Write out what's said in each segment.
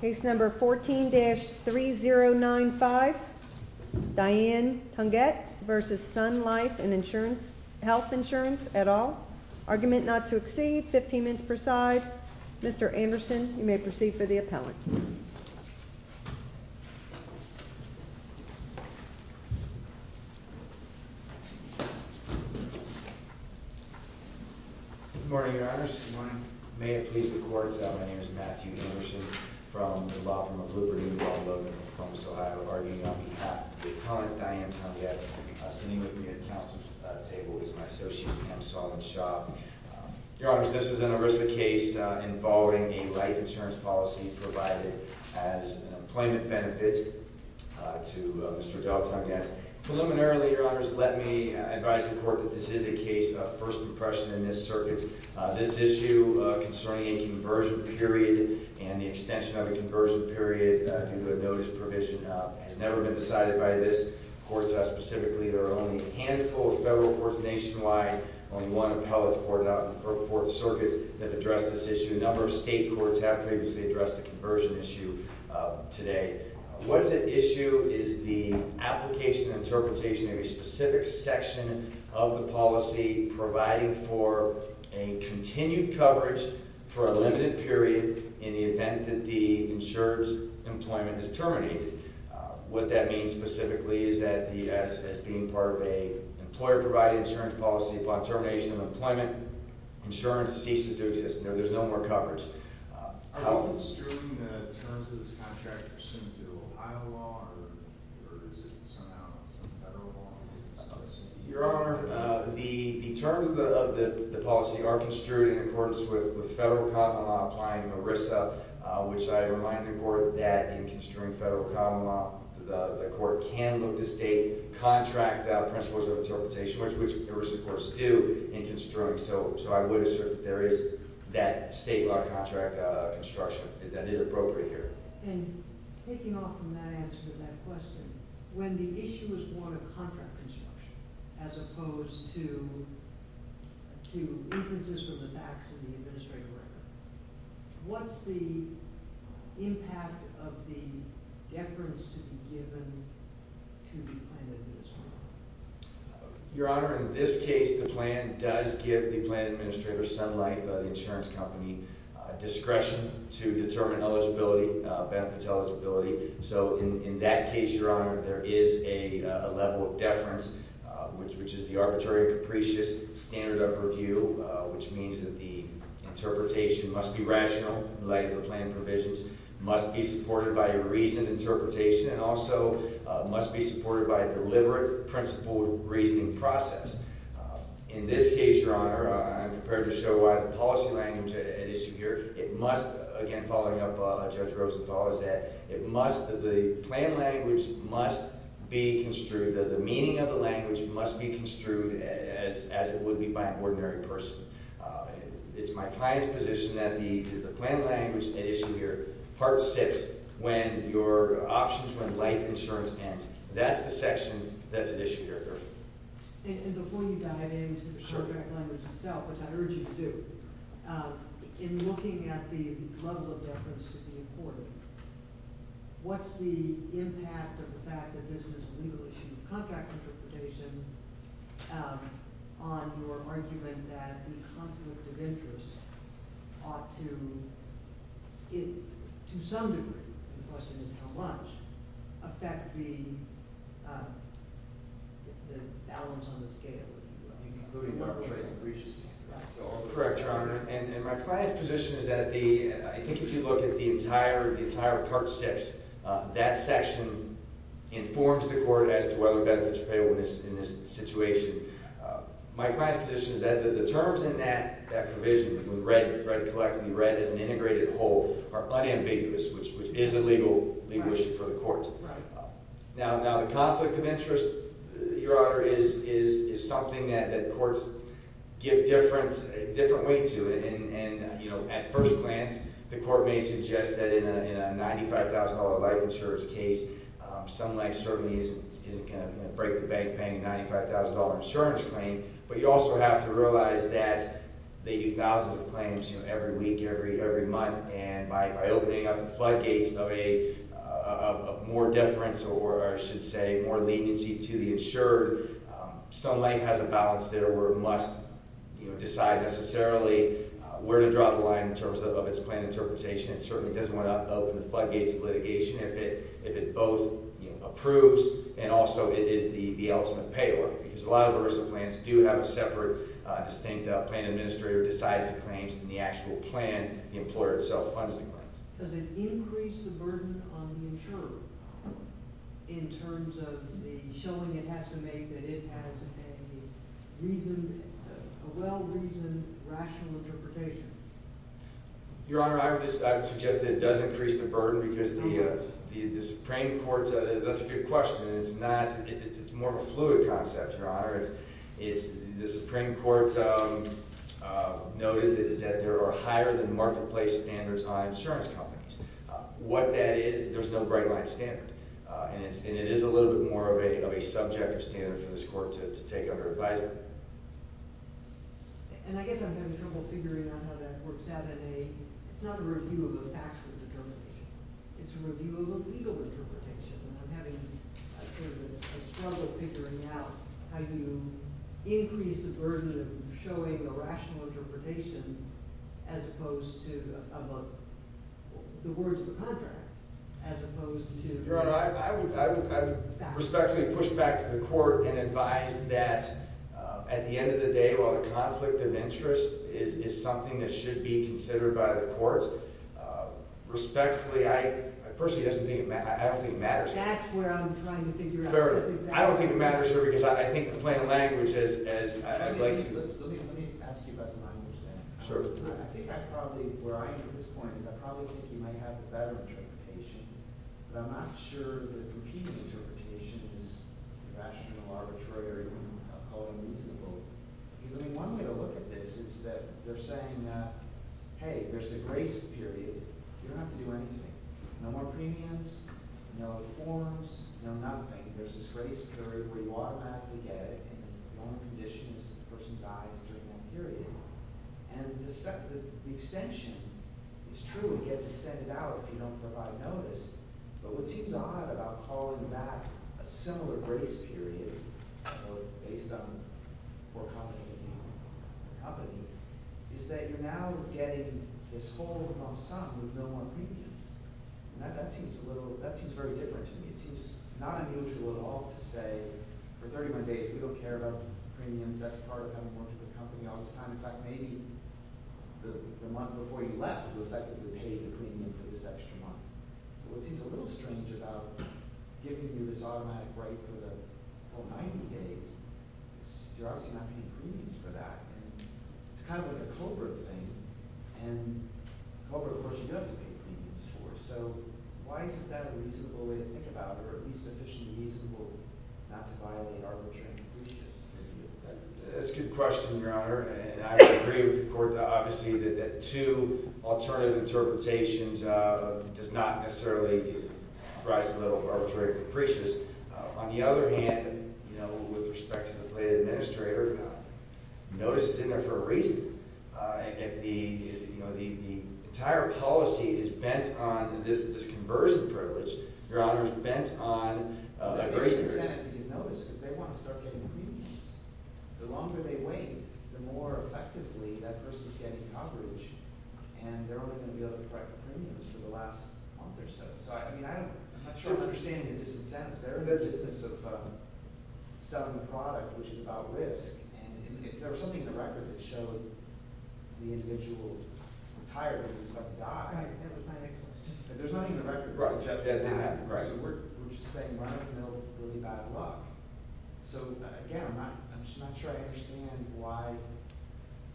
Case number 14-3095 Diane Tungette v. Sun Life and Health Insurance, et al. Argument not to exceed 15 minutes per side. Mr. Anderson, you may proceed for the appellate. Good morning, Your Honors. Good morning. May it please the Court that my name is Matthew Anderson from the Law Firm of Liberty Law Building in Columbus, Ohio, arguing on behalf of the appellant, Diane Tungette, sitting with me at the council table is my associate, Pam Sullivan-Shaw. Your Honors, this is an ERISA case involving a life insurance policy provided as an employment benefit to Mr. Dell Tungette. Preliminarily, Your Honors, let me advise the Court that this is a case of first impression in this circuit. This issue concerning a conversion period and the extension of a conversion period due to a notice provision has never been decided by this Court. Specifically, there are only a handful of federal courts nationwide, only one appellate for the circuit that addressed this issue. A number of state courts have previously addressed the conversion issue today. What is at issue is the application and interpretation of a specific section of the policy providing for a continued coverage for a limited period in the event that the insurance employment is terminated. What that means specifically is that as being part of an employer-provided insurance policy upon termination of employment, insurance ceases to exist. There is no more coverage. Are you construing the terms of this contract pursuant to Ohio law or is it somehow federal law? Your Honor, the terms of the policy are construed in accordance with federal common law applying to ERISA, which I remind the Court that in construing federal common law, the Court can look to state contract principles of interpretation, which ERISA courts do in construing. So I would assert that there is that state law contract construction that is appropriate here. And taking off from that answer to that question, when the issue is more of contract construction as opposed to inferences from the facts of the administrative record, what's the impact of the deference to be given to the plan administrator? Your Honor, in this case, the plan does give the plan administrator some length of the insurance company discretion to determine eligibility, benefit eligibility. So in that case, Your Honor, there is a level of deference, which is the arbitrary and capricious standard of review, which means that the interpretation must be rational in light of the plan provisions, must be supported by a reasoned interpretation, and also must be supported by a deliberate principled reasoning process. In this case, Your Honor, I'm prepared to show why the policy language at issue here, it must, again following up Judge Rosenthal, is that it must, the plan language must be construed, that the meaning of the language must be construed as it would be by an ordinary person. It's my client's position that the plan language at issue here, part six, when your options, when life insurance ends, that's the section that's at issue here. And before you dive into the contract language itself, which I'd urge you to do, in looking at the level of deference to be afforded, what's the impact of the fact that this is a legal issue, the contract interpretation, on your argument that the conflict of interest ought to, to some degree, the question is how much, affect the balance on the scale? So I'm correct, Your Honor, and my client's position is that the, I think if you look at the entire part six, that section informs the court as to whether benefits are payable in this situation. My client's position is that the terms in that provision, when red, red collectively, red is an integrated whole, are unambiguous, which is a legal issue for the court. Now, the conflict of interest, Your Honor, is something that courts give different weight to, and at first glance, the court may suggest that in a $95,000 life insurance case, some life certainly isn't going to break the bank paying a $95,000 insurance claim, but you also have to realize that they do thousands of claims every week, every month, and by opening up the floodgates of a more deference, or I should say, more leniency to the insured, some life has a balance there where it must decide necessarily where to drop the line in terms of its plan interpretation. It certainly doesn't want to open the floodgates of litigation if it both approves and also it is the ultimate payor, because a lot of ERISA plans do have a separate, distinct plan administrator who decides the claims, and the actual plan, the employer itself, funds the claims. Does it increase the burden on the insurer in terms of the showing it has to make that it has a reason, a well-reasoned, rational interpretation? Your Honor, I would suggest that it does increase the burden because the Supreme Court, that's a good question, and it's not – it's more of a fluid concept, Your Honor. The Supreme Court noted that there are higher-than-marketplace standards on insurance companies. What that is, there's no break-line standard, and it is a little bit more of a subjective standard for this court to take under advisory. And I guess I'm having trouble figuring out how that works out in a – it's not a review of a factual determination. It's a review of a legal interpretation, and I'm having sort of a struggle figuring out how you increase the burden of showing a rational interpretation as opposed to the words of the contract, as opposed to – Your Honor, I would respectfully push back to the court and advise that at the end of the day, while the conflict of interest is something that should be considered by the courts, respectfully, I personally don't think it matters. That's where I'm trying to figure out. Fairly. I don't think it matters here because I think the plain language is – I'd like to – Let me ask you about the language then. Certainly. I think I probably – where I am at this point is I probably think you might have a better interpretation, but I'm not sure that a competing interpretation is rational, arbitrary, or reasonable. Because, I mean, one way to look at this is that they're saying, hey, there's a grace period. You don't have to do anything. No more premiums, no reforms, no nothing. There's this grace period where you automatically get it, and the only condition is that the person dies during that period. And the extension is true. It gets extended out if you don't provide notice. But what seems odd about calling back a similar grace period, based on poor company, is that you're now getting this whole ensemble with no more premiums. And that seems a little – that seems very different to me. It seems not unusual at all to say, for 31 days, we don't care about premiums. That's part of having worked at the company all this time. In fact, maybe the month before you left, you effectively paid the premium for this extra month. What seems a little strange about giving you this automatic right for the whole 90 days, is you're obviously not getting premiums for that. And it's kind of like a COBRA thing. And COBRA, of course, you have to pay premiums for. So why isn't that a reasonable way to think about it, or at least sufficiently reasonable not to violate arbitrary increases? That's a good question, Your Honor. And I would agree with the court, obviously, that two alternative interpretations does not necessarily rise to the level of arbitrary increases. On the other hand, with respect to the plaintiff-administrator, notice is in there for a reason. If the entire policy is bent on this conversion privilege, Your Honor, it's bent on that grace period. But the plaintiff-administrator didn't notice because they want to start getting premiums. The longer they wait, the more effectively that person is getting coverage, and they're only going to be able to correct the premiums for the last month or so. So, I mean, I have a short understanding of disincentives. They're in the business of selling the product, which is about risk. And if there was something in the record that showed the individual's retirement, it was about the doc. That was my next question. There's nothing in the record that suggests that didn't happen. Right. So we're just saying we don't know really about a doc. So, again, I'm just not sure I understand why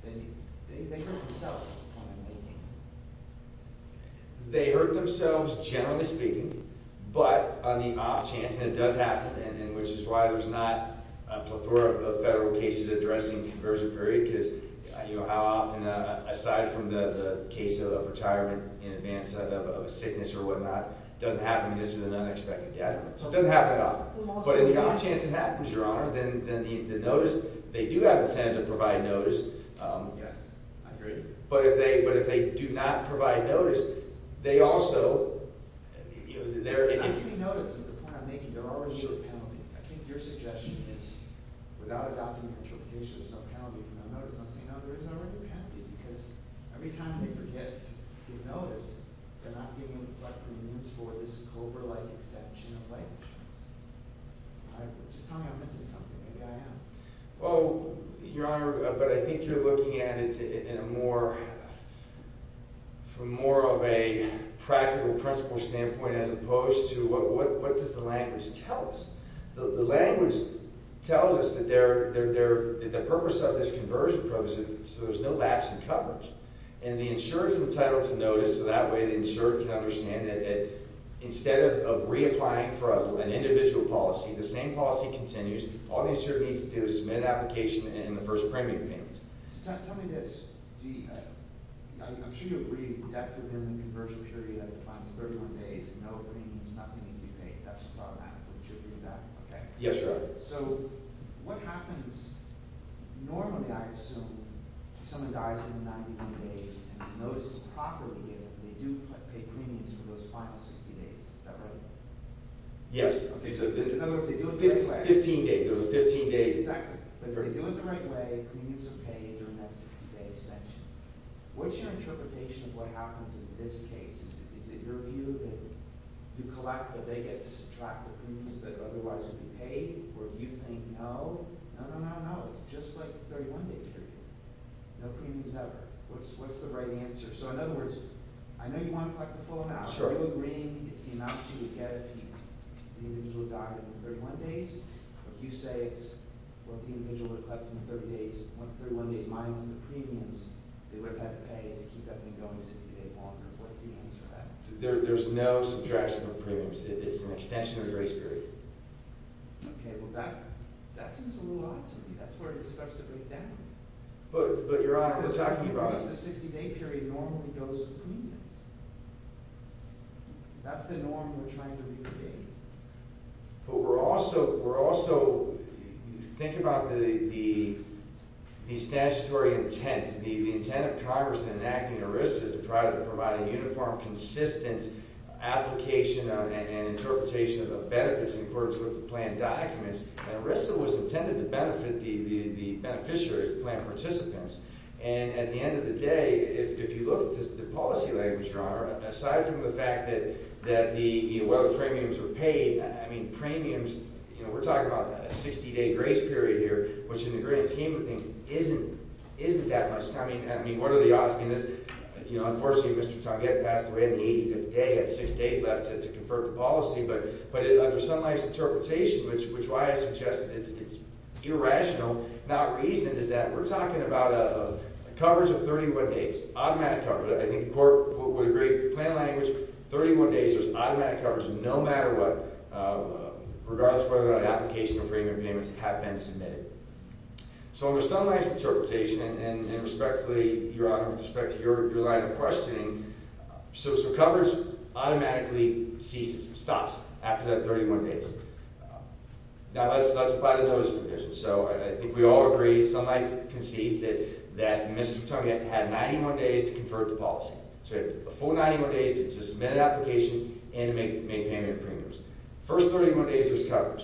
they hurt themselves at this point in time. They hurt themselves, generally speaking, but on the off chance, and it does happen, and which is why there's not a plethora of federal cases addressing the conversion period because how often, aside from the case of retirement in advance of a sickness or whatnot, it doesn't happen in an unexpected gathering. So it doesn't happen often. But on the off chance it happens, Your Honor, then the notice, they do have incentive to provide notice. Yes, I agree. But if they do not provide notice, they also – And I see notice as the point I'm making. There already is a penalty. I think your suggestion is without adopting an interpretation, there's no penalty for no notice. I'm saying no, there is already a penalty because every time they forget to give notice, they're not giving a plethora of notice for this covert-like extension of language. Just tell me I'm missing something. Maybe I am. Well, Your Honor, but I think you're looking at it in a more – from more of a practical principle standpoint as opposed to what does the language tell us. The language tells us that the purpose of this conversion process is so there's no lapse in coverage. And the insurer is entitled to notice. So that way the insurer can understand that instead of reapplying for an individual policy, the same policy continues. All the insurer needs to do is submit an application and the first premium payment. Tell me this. I'm sure you agree that within the conversion period as it applies, 31 days, no premiums, nothing needs to be paid. That's the bottom line. Do you agree with that? Yes, Your Honor. Okay. So what happens – normally I assume someone dies within 90 days and notices properly if they do pay premiums for those final 60 days. Is that right? Yes. Okay. So in other words, they do it the right way. Fifteen days. It was 15 days. Exactly. But if they do it the right way, premiums are paid during that 60-day extension. What's your interpretation of what happens in this case? Is it your view that you collect what they get to subtract the premiums that otherwise would be paid? Or do you think no? No, no, no, no. It's just like the 31-day period. No premiums ever. What's the right answer? So in other words, I know you want to collect the full amount. Are you agreeing it's the amount you would get if the individual died in 31 days? If you say it's what the individual would have collected in 31 days minus the premiums, they would have had to pay to keep everything going 60 days longer. What's the answer to that? There's no subtraction of premiums. It's an extension of the grace period. Okay. Well, that seems a little odd to me. That's where it starts to break down. But, Your Honor, we're talking about— Because the 60-day period normally goes with premiums. That's the norm we're trying to recreate. But we're also—we're also—think about the statutory intent. The intent of Congress in enacting ERISA is to provide a uniform, consistent application and interpretation of the benefits in accordance with the plan documents. And ERISA was intended to benefit the beneficiaries, the plan participants. And at the end of the day, if you look at the policy language, Your Honor, aside from the fact that the—whether premiums were paid, I mean, premiums, you know, we're talking about a 60-day grace period here, which in the grand scheme of things isn't—isn't that much time. I mean, what are the odds? I mean, this—you know, unfortunately, Mr. Tonguette passed away on the 85th day. He had six days left to confer the policy. But under Sun Life's interpretation, which is why I suggest it's irrational, not reasoned, is that we're talking about a coverage of 31 days, automatic coverage. I think the Court would agree, plan language, 31 days, there's automatic coverage no matter what, So under Sun Life's interpretation, and respectfully, Your Honor, with respect to your line of questioning, so coverage automatically ceases, stops after that 31 days. Now let's apply the notice provision. So I think we all agree, Sun Life concedes that Mr. Tonguette had 91 days to confer the policy. So he had a full 91 days to submit an application and to make payment of premiums. First 31 days was coverage.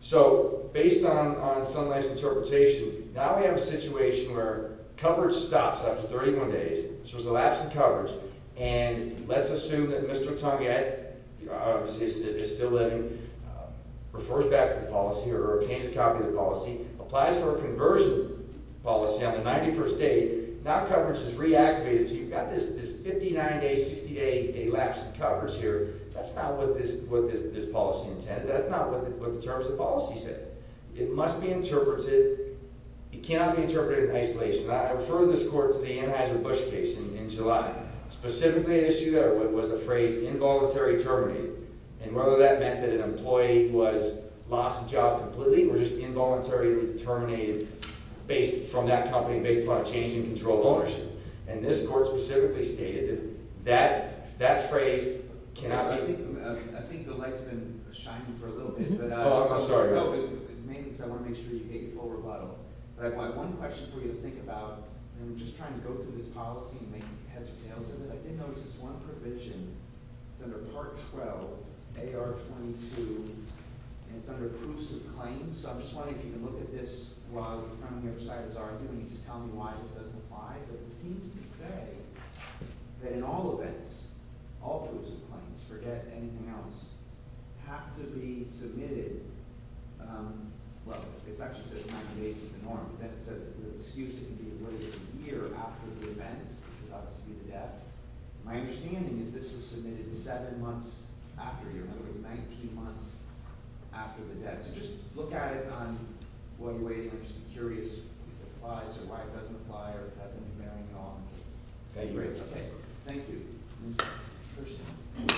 So based on Sun Life's interpretation, now we have a situation where coverage stops after 31 days, which was a lapse in coverage, and let's assume that Mr. Tonguette is still living, refers back to the policy or obtains a copy of the policy, applies for a conversion policy on the 91st day. Now coverage is reactivated, so you've got this 59-day, 60-day lapse in coverage here. That's not what this policy intended. That's not what the terms of the policy said. It must be interpreted. It cannot be interpreted in isolation. I referred this court to the Anheuser-Busch case in July. Specifically an issue there was a phrase, involuntary terminating, and whether that meant that an employee was lost the job completely or just involuntarily terminated from that company based upon a change in control of ownership. And this court specifically stated that that phrase cannot be— I think the light's been shining for a little bit. Oh, I'm sorry. No, but mainly because I want to make sure you get your full rebuttal. But I have one question for you to think about. And I'm just trying to go through this policy and make heads or tails of it. I did notice this one provision. It's under Part 12, AR 22, and it's under proofs of claims. So I'm just wondering if you can look at this while the front and the other side is arguing and just tell me why this doesn't apply. But it seems to say that in all events, all proofs of claims, forget anything else, have to be submitted—well, it actually says 90 days is the norm, but then it says the excuse can be as late as a year after the event, which would obviously be the death. My understanding is this was submitted seven months after a year, in other words, 19 months after the death. So just look at it on what way—I'm just curious if it applies or why it doesn't apply or whether it hasn't been married on. Okay, great. Thank you. Ms. Hurston. Good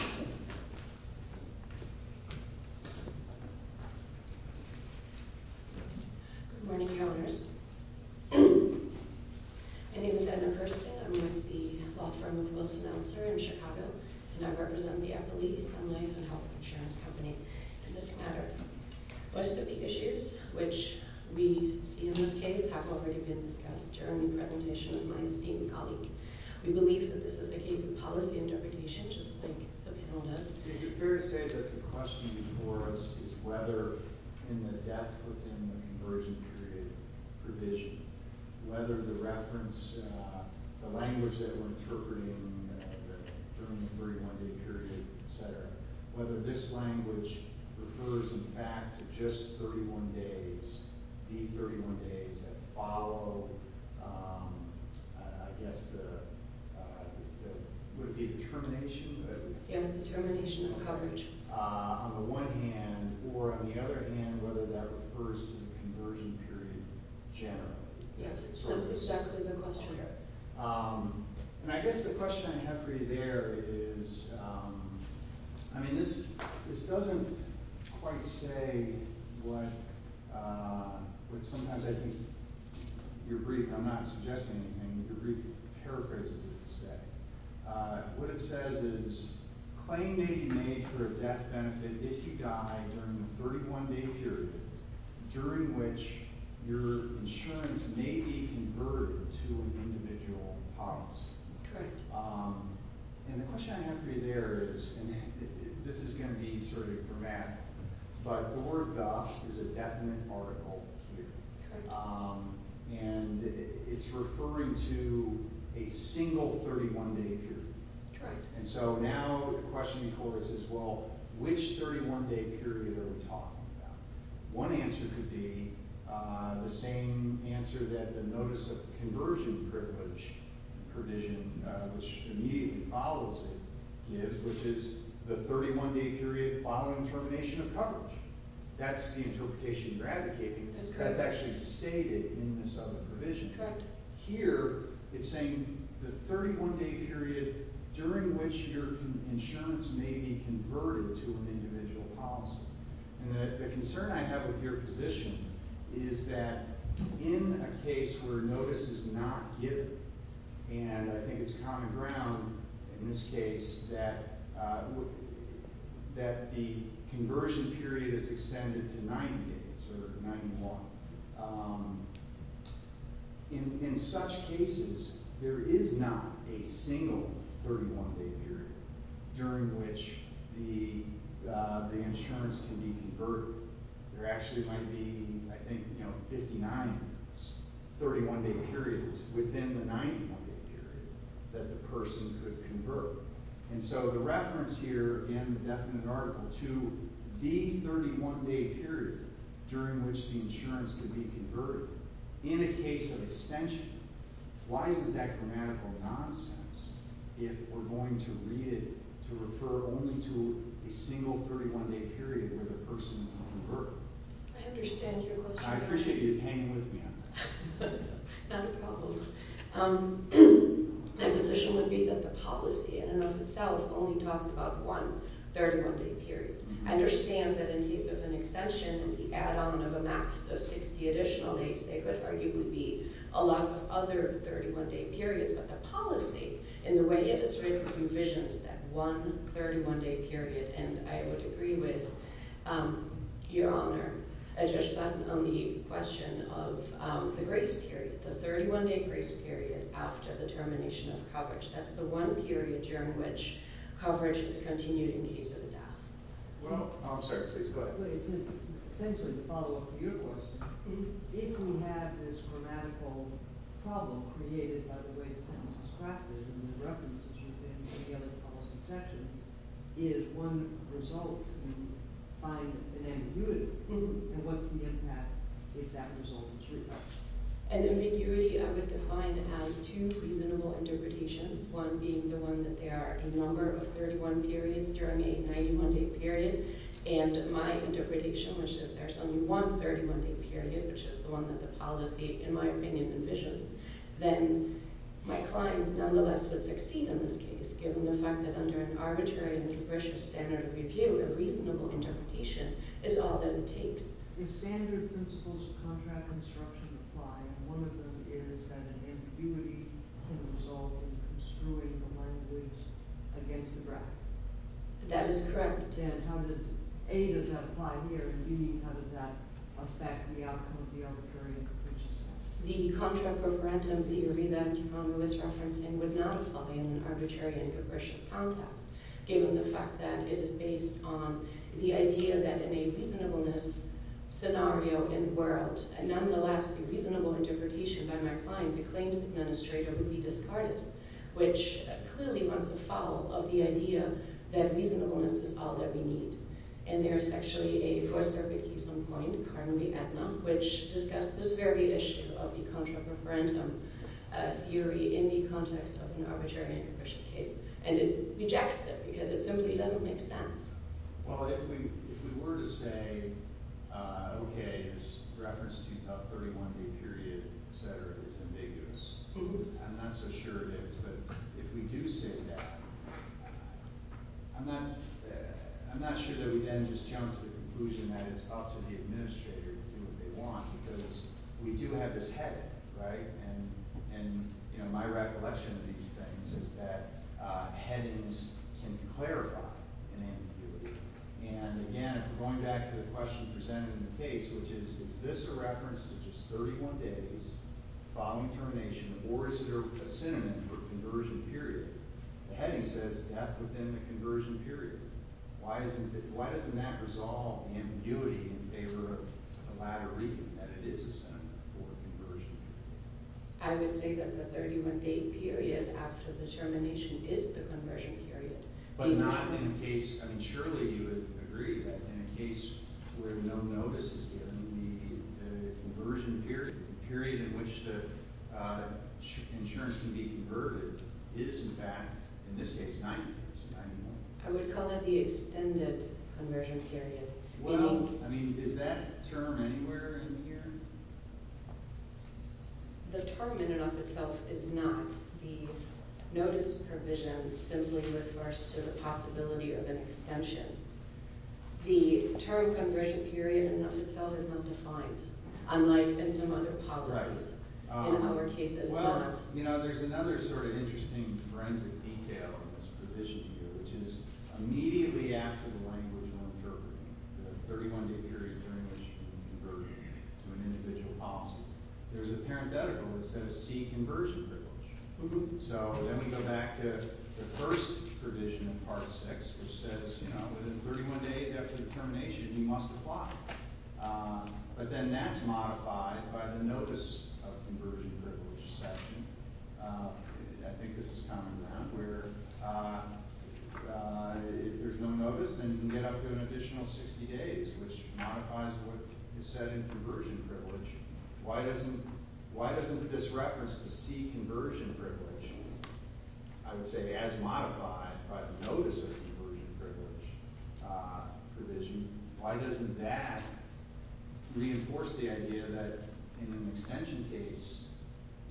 morning, Councillors. My name is Edna Hurston. I'm with the law firm of Wilson-Elser in Chicago, and I represent the Eppley Sun Life and Health Insurance Company in this matter. Most of the issues which we see in this case have already been discussed. During the presentation with my esteemed colleague, we believe that this is a case of policy interpretation, just like the panel does. Is it fair to say that the question before us is whether, in the death within the conversion period provision, whether the reference—the language that we're interpreting during the 31-day period, et cetera, whether this language refers, in fact, to just 31 days, the 31 days that follow, I guess, the—would it be the termination? Yeah, the termination of coverage. On the one hand, or on the other hand, whether that refers to the conversion period in general. Yes, that's exactly the question here. And I guess the question I have for you there is— I mean, this doesn't quite say what sometimes I think your brief— I'm not suggesting anything, but your brief paraphrases it to say. What it says is, claim may be made for a death benefit if you die during the 31-day period during which your insurance may be converted to an individual policy. And the question I have for you there is—and this is going to be sort of dramatic, but the word gosh is a definite article here. And it's referring to a single 31-day period. And so now the question before us is, well, which 31-day period are we talking about? One answer could be the same answer that the Notice of Conversion Privilege provision, which immediately follows it, gives, which is the 31-day period following termination of coverage. That's the interpretation you're advocating. That's correct. That's actually stated in this other provision. Correct. Here, it's saying the 31-day period during which your insurance may be converted to an individual policy. And the concern I have with your position is that in a case where notice is not given, and I think it's common ground in this case that the conversion period is extended to 90 days or 90 more, in such cases, there is not a single 31-day period during which the insurance can be converted. There actually might be, I think, 59 31-day periods within the 90-day period that the person could convert. And so the reference here in the definite article to the 31-day period during which the insurance could be converted, in a case of extension, why isn't that grammatical nonsense if we're going to read it to refer only to a single 31-day period where the person can convert? I understand your question. I appreciate you hanging with me on that. Not a problem. My position would be that the policy in and of itself only talks about one 31-day period. I understand that in the case of an extension, the add-on of a max of 60 additional days, they could arguably be a lot of other 31-day periods. But the policy in the way it is written provisions that one 31-day period, and I would agree with Your Honor, I just sat on the question of the grace period, the 31-day grace period after the termination of coverage. That's the one period during which coverage is continued in case of a death. Well, I'm sorry, please go ahead. Essentially, to follow up to your question, if we have this grammatical problem created by the way the sentence is crafted and the references you've given to the other policy sections, is one result to find an ambiguity? And what's the impact if that result is true? An ambiguity I would define as two reasonable interpretations, one being the one that there are a number of 31 periods during a 91-day period, and my interpretation, which is there's only one 31-day period, which is the one that the policy, in my opinion, envisions. Then my client nonetheless would succeed in this case, given the fact that under an arbitrary and capricious standard of review, a reasonable interpretation is all that it takes. If standard principles of contract construction apply, one of them is that an ambiguity can result in construing the language against the ground. That is correct. And how does A, does that apply here, and B, how does that affect the outcome of the arbitrary and capricious? The contra-proparentum theory that Ron Lewis referenced would not apply in an arbitrary and capricious context, given the fact that it is based on the idea that in a reasonableness scenario in the world, nonetheless, a reasonable interpretation by my client, the claims administrator, would be discarded, which clearly runs afoul of the idea that reasonableness is all that we need. And there's actually a Fourth Circuit case on point, currently at NUM, which discussed this very issue of the contra-proparentum theory in the context of an arbitrary and capricious case, and it rejects it because it simply doesn't make sense. Well, if we were to say, okay, this reference to a 31-day period, et cetera, is ambiguous, I'm not so sure it is, but if we do say that, I'm not sure that we then just jump to the conclusion that it's up to the administrator to do what they want, because we do have this heading, right? And my recollection of these things is that headings can clarify an ambiguity. And again, going back to the question presented in the case, which is, is this a reference to just 31 days following termination, or is there a sentiment for a conversion period? The heading says death within the conversion period. Why doesn't that resolve the ambiguity in favor of the latter reading, that it is a sentiment for a conversion period? I would say that the 31-day period after the termination is the conversion period. But not in a case, I mean, surely you would agree that in a case where no notice is given, the conversion period, the period in which the insurance can be converted, is in fact, in this case, 90 days, 90 months. I would call it the extended conversion period. Well, I mean, is that term anywhere in here? The term in and of itself is not the notice provision simply refers to the possibility of an extension. The term conversion period in and of itself is not defined, unlike in some other policies. Right. In our case, it's not. Well, you know, there's another sort of interesting forensic detail in this provision here, which is immediately after the language of interpretation, the 31-day period during which you can converge to an individual policy. There's a parenthetical that says, see conversion privilege. So then we go back to the first provision in Part 6, which says, you know, within 31 days after the termination, you must apply. But then that's modified by the notice of conversion privilege section. I think this is common ground, where if there's no notice, then you can get up to an additional 60 days, which modifies what is said in conversion privilege. Why doesn't this reference to see conversion privilege, I would say, as modified by the notice of conversion privilege provision, why doesn't that reinforce the idea that in an extension case,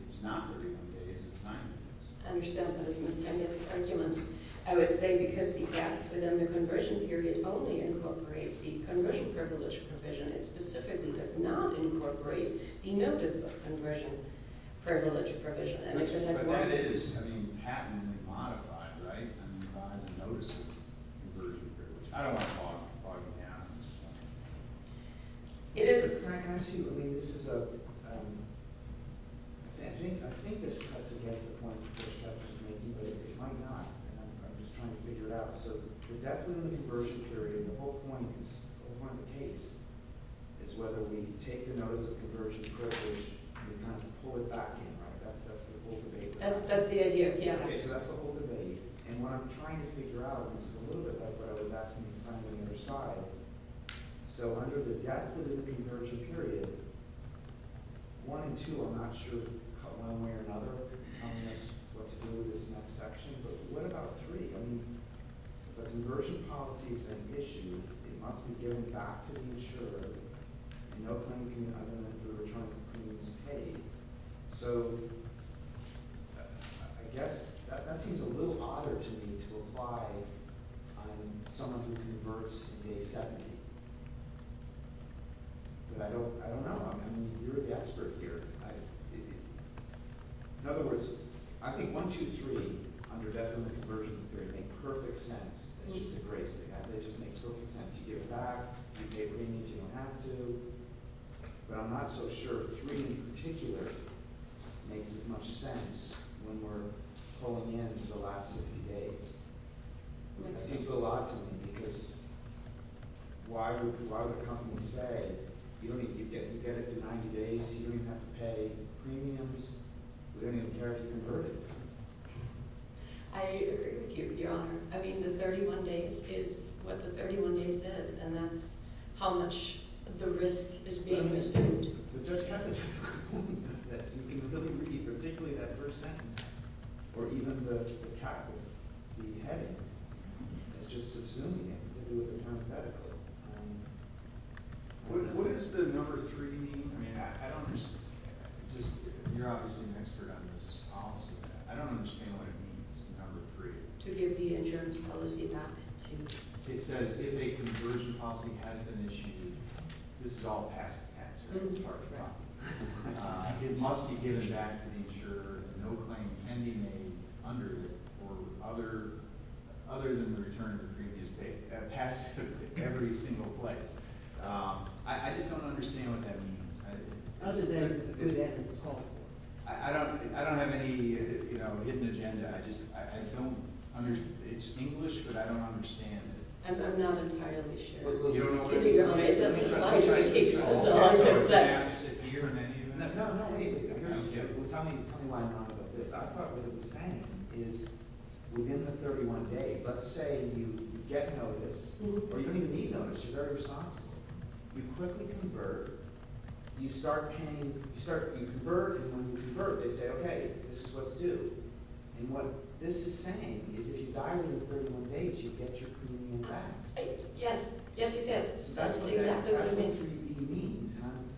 it's not 31 days, it's 90 days? I understand that it's a misdemeanor argument. I would say because the F within the conversion period only incorporates the conversion privilege provision. It specifically does not incorporate the notice of conversion privilege provision. But that is, I mean, patently modified, right, by the notice of conversion privilege. I don't want to bog you down. Can I ask you, I mean, this is a, I think this cuts against the point that I was making, but it might not. I'm just trying to figure it out. So the depth within the conversion period, and the whole point is, or the whole case, is whether we take the notice of conversion privilege and we kind of pull it back in, right? That's the whole debate. That's the idea, yes. So that's the whole debate. And what I'm trying to figure out, and this is a little bit like what I was asking the client on the other side. So under the depth of the conversion period, one and two, I'm not sure, cut one way or another, telling us what to do with this next section. But what about three? I mean, the conversion policy is an issue. It must be given back to the insurer. And no claim can be under that if we're trying to prove it's paid. So I guess that seems a little odder to me to apply on someone who converts in day 70. But I don't know. I mean, you're the expert here. In other words, I think one, two, three, under depth of the conversion period, make perfect sense. It's just a great thing. They just make perfect sense. You give it back. You pay what you need. You don't have to. But I'm not so sure three in particular makes as much sense when we're pulling in for the last 60 days. That seems a lot to me because why would a company say you get it for 90 days, you don't even have to pay premiums. We don't even care if you convert it. Your Honor, I mean the 31 days is what the 31 days is. And that's how much the risk is being resumed. But Judge Kavanaugh just said that you can really read particularly that first sentence or even the capital, the heading. It's just subsuming it with a parenthetical. What does the number three mean? I mean I don't understand. You're obviously an expert on this policy. I don't understand what it means, the number three. To give the insurance policy back to – It says if a conversion policy has been issued, this is all passive tax. It must be given back to the insurer. No claim can be made under it or other than the return of the previous paycheck. Passive every single place. I just don't understand what that means. I don't have any, you know, hidden agenda. It's English, but I don't understand it. I'm not entirely sure. You don't know what it means? It doesn't apply to the case itself. No, no. Tell me why I'm wrong about this. I thought what it was saying is within the 31 days, let's say you get notice or you don't even need notice. You're very responsible. You quickly convert. You start paying – you convert, and when you convert, they say, okay, this is what's due. And what this is saying is if you die within the 31 days, you get your premium back. Yes. Yes, he says. That's exactly what he means. That's what he means.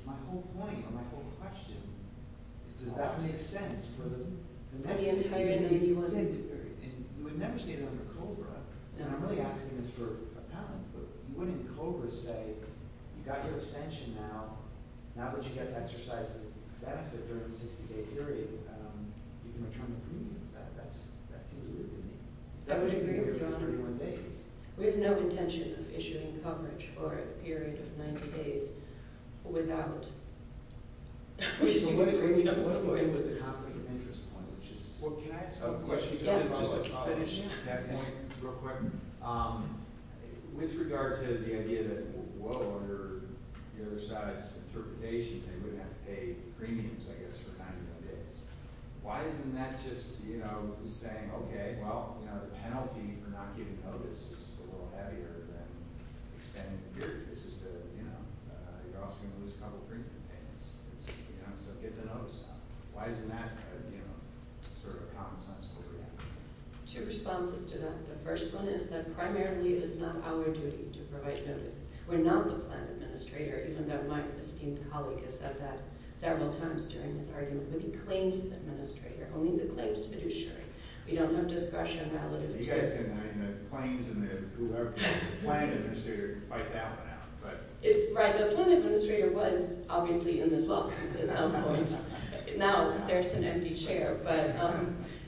My whole point or my whole question is does that make sense for the next 60-day, 81-day period? And we've never stated under COBRA, and I'm really asking this for a patent, but wouldn't COBRA say you got your extension now, but you get to exercise the benefit during the 60-day period? You can return the premiums. That seems weird to me. That's what he's doing with the 31 days. We have no intention of issuing coverage for a period of 90 days without – What do you mean with the conflict of interest point, which is – Well, can I ask a question? Just to follow up on that point real quick. With regard to the idea that, whoa, under the other side's interpretation, they would have to pay premiums, I guess, for 90 days, why isn't that just saying, okay, well, the penalty for not giving notice is just a little heavier than extending the period? It's just that you're also going to lose a couple premium payments. So get the notice out. Why isn't that sort of a common-sense story? Two responses to that. The first one is that primarily it is not our duty to provide notice. We're not the plan administrator, even though my esteemed colleague has said that several times during his argument. We're the claims administrator. Only the claims fiduciary. We don't have discretion. You guys didn't like the claims and the whoever. The plan administrator can fight that one out. It's right. The plan administrator was obviously in this lawsuit at some point. Now there's an empty chair. But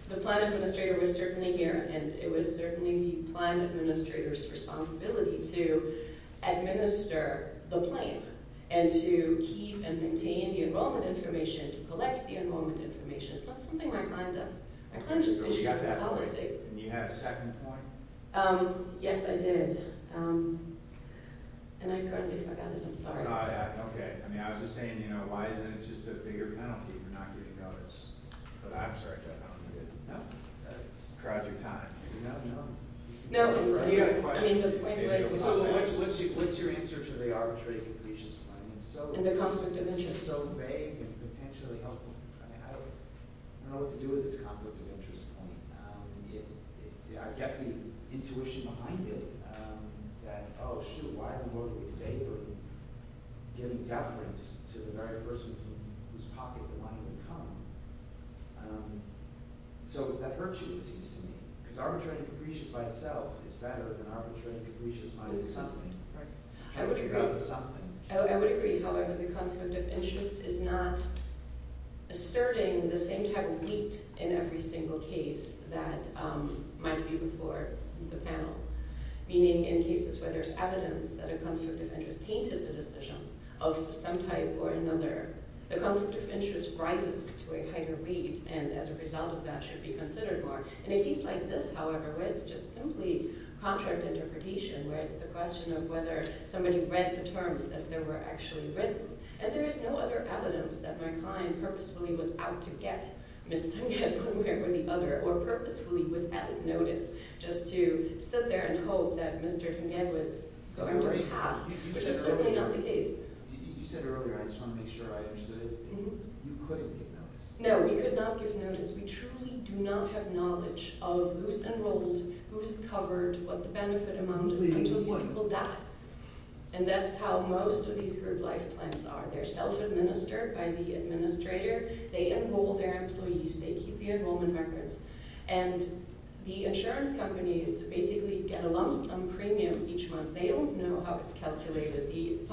the plan administrator was certainly here, and it was certainly the plan administrator's responsibility to administer the claim and to keep and maintain the enrollment information, to collect the enrollment information. It's not something my client does. My client just fiduciaries the policy. You had a second point? Yes, I did. And I currently forgot it. I'm sorry. Okay. I mean, I was just saying, you know, why isn't it just a bigger penalty for not getting notice? But I'm sorry, Jeff. I don't know. No. Crowd your time. No, no. No. He had a question. What's your answer to the arbitrary completion? And the conflict of interest. It's so vague and potentially helpful. I don't know what to do with this conflict of interest point. I get the intuition behind it that, oh, shoot, why are we favoring getting deference to the very person whose pocket the money would come? So that hurts you, it seems to me, because arbitrary completion by itself is better than arbitrary completion by something. Right. I would agree. However, the conflict of interest is not asserting the same type of weight in every single case that might be before the panel. Meaning in cases where there's evidence that a conflict of interest tainted the decision of some type or another, the conflict of interest rises to a higher weight and as a result of that should be considered more. In a case like this, however, where it's just simply contract interpretation, where it's the question of whether somebody read the terms as they were actually written. And there is no other evidence that my client purposefully was out to get Mr. Nguyen one way or the other or purposefully without notice just to sit there and hope that Mr. Nguyen was going to pass, which is certainly not the case. You said earlier, I just want to make sure I understood, you couldn't give notice. We truly do not have knowledge of who's enrolled, who's covered, what the benefit amount is until these people die. And that's how most of these group life plans are. They're self-administered by the administrator. They enroll their employees. They keep the enrollment records. And the insurance companies basically get a lump sum premium each month. They don't know how it's calculated. I see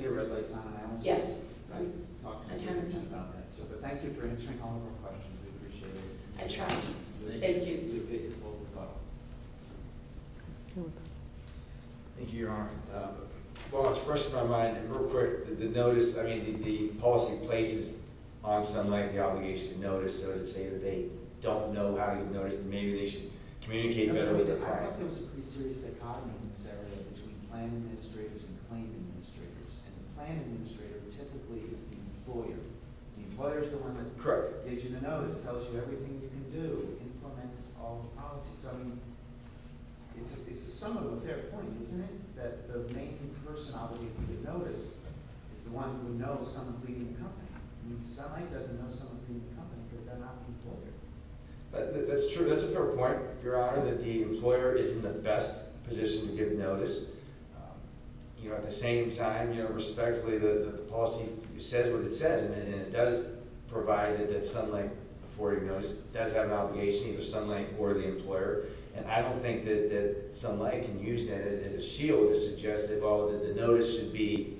the red lights on. Yes. Thank you for answering all of our questions. We appreciate it. I try. Thank you. Thank you, Your Honor. Well, what's first in my mind, real quick, the notice, I mean, the policy places on some length the obligation to notice, so to say, that they don't know how to notice. Maybe they should communicate better with the client. I think there's a pretty serious dichotomy in this area between plan administrators and claim administrators. And the plan administrator typically is the employer. The employer is the one that gives you the notice, tells you everything you can do, implements all the policies. I mean, it's a sum of their point, isn't it, that the main person obligated to notice is the one who knows someone's leaving the company. I mean, somebody doesn't know someone's leaving the company because they're not an employer. That's true. That's a fair point, Your Honor. I don't know that the employer is in the best position to give notice. At the same time, respectfully, the policy says what it says. And it does provide that some length before you notice does have an obligation, either some length or the employer. And I don't think that some length can use that as a shield to suggest that, well, the notice should be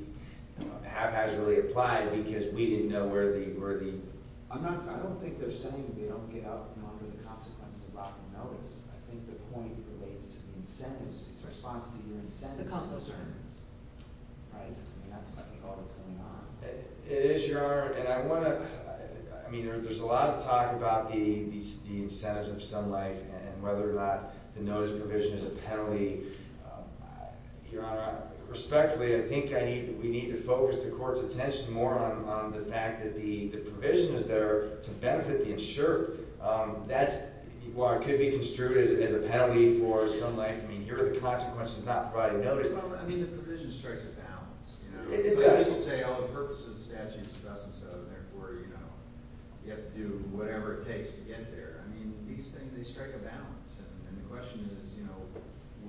haphazardly applied because we didn't know where the – I'm not – I don't think they're saying that they don't get out from under the consequences of blocking notice. I think the point relates to the incentives. It's a response to your incentives and concern. The consequences. Right? That's like all that's going on. It is, Your Honor. And I want to – I mean, there's a lot of talk about the incentives of some life and whether or not the notice provision is a penalty. Your Honor, respectfully, I think we need to focus the court's attention more on the fact that the provision is there to benefit the insured. That's – well, it could be construed as a penalty for some length. I mean, here are the consequences of not providing notice. Well, I mean, the provision strikes a balance. It does. Some people say, oh, the purpose of the statute is thus and so, and therefore, you have to do whatever it takes to get there. I mean, these things, they strike a balance. And the question is, you know,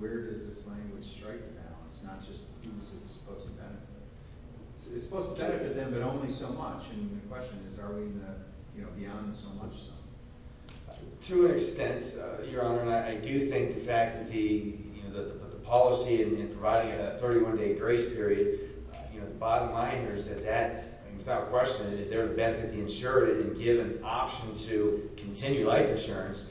where does this language strike the balance, not just who is it supposed to benefit? It's supposed to benefit them, but only so much. And the question is, are we beyond the so-much zone? To an extent, Your Honor, and I do think the fact that the policy in providing a 31-day grace period, you know, the bottom line here is that that – and give an option to continue life insurance,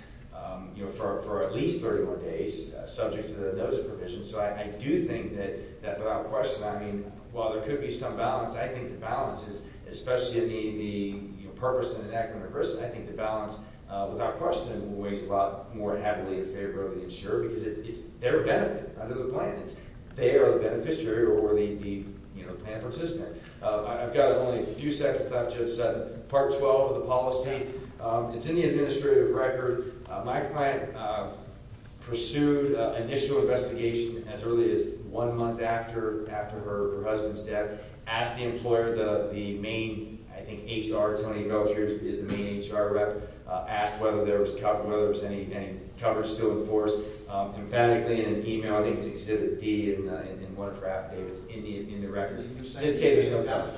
you know, for at least 31 days subject to the notice provision. So I do think that without question, I mean, while there could be some balance, I think the balance is – especially the purpose and enactment of risk – I think the balance without question weighs a lot more heavily in favor of the insured because it's their benefit under the plan. They are the beneficiary or the, you know, plan participant. I've got only a few seconds left. Just part 12 of the policy. It's in the administrative record. My client pursued initial investigation as early as one month after her husband's death, asked the employer, the main, I think, HR – Tony Belcher is the main HR rep – asked whether there was any coverage still in force. Emphatically in an email, I think it's Exhibit D in one of her affidavits in the record. It did say there's no coverage.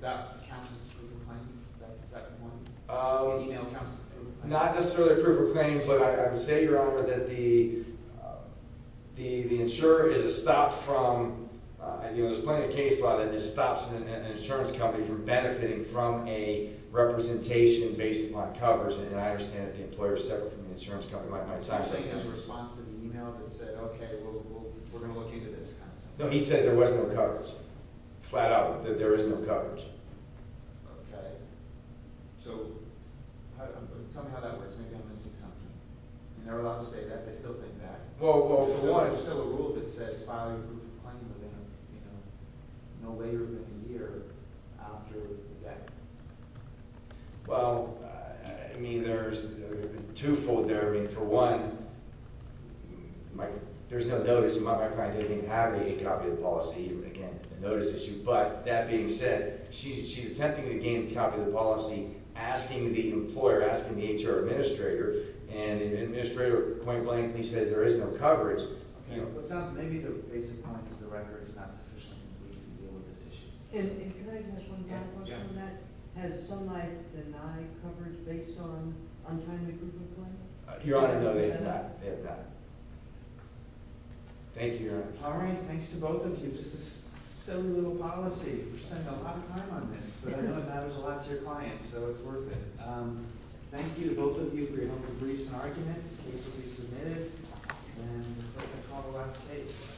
That counts as a proof of claim? That second one? An email counts as a proof of claim? Not necessarily a proof of claim, but I would say, Your Honor, that the insurer is a stop from – and, you know, there's plenty of case law that this stops an insurance company from benefiting from a representation based upon coverage. And I understand that the employer settled for the insurance company. My time's up. You're saying there's a response to the email that said, okay, we're going to look into this kind of thing? No, he said there was no coverage. Flat out that there is no coverage. Okay. So, tell me how that works. Maybe I'm missing something. You're never allowed to say that. They still think that. Well, for one – Is there still a rule that says filing a proof of claim would end, you know, no later than a year after the death? Well, I mean, there's a two-fold there. I mean, for one, there's no notice. My client doesn't even have a copy of the policy. Again, a notice issue. But that being said, she's attempting to gain a copy of the policy, asking the employer, asking the HR administrator, and the administrator, point blank, he says there is no coverage. Okay. Maybe the basic point is the record is not sufficient to deal with this issue. And can I just ask one final question on that? Yeah. Has Sunlight denied coverage based on untimely proof of claim? Your Honor, no. They have not. They have not. Thank you, Your Honor. All right. Thanks to both of you. Just a silly little policy. We're spending a lot of time on this, but I know it matters a lot to your clients, so it's worth it. Thank you to both of you for your helpful briefs and argument. The case will be submitted, and I think I'll call the last case. Thank you.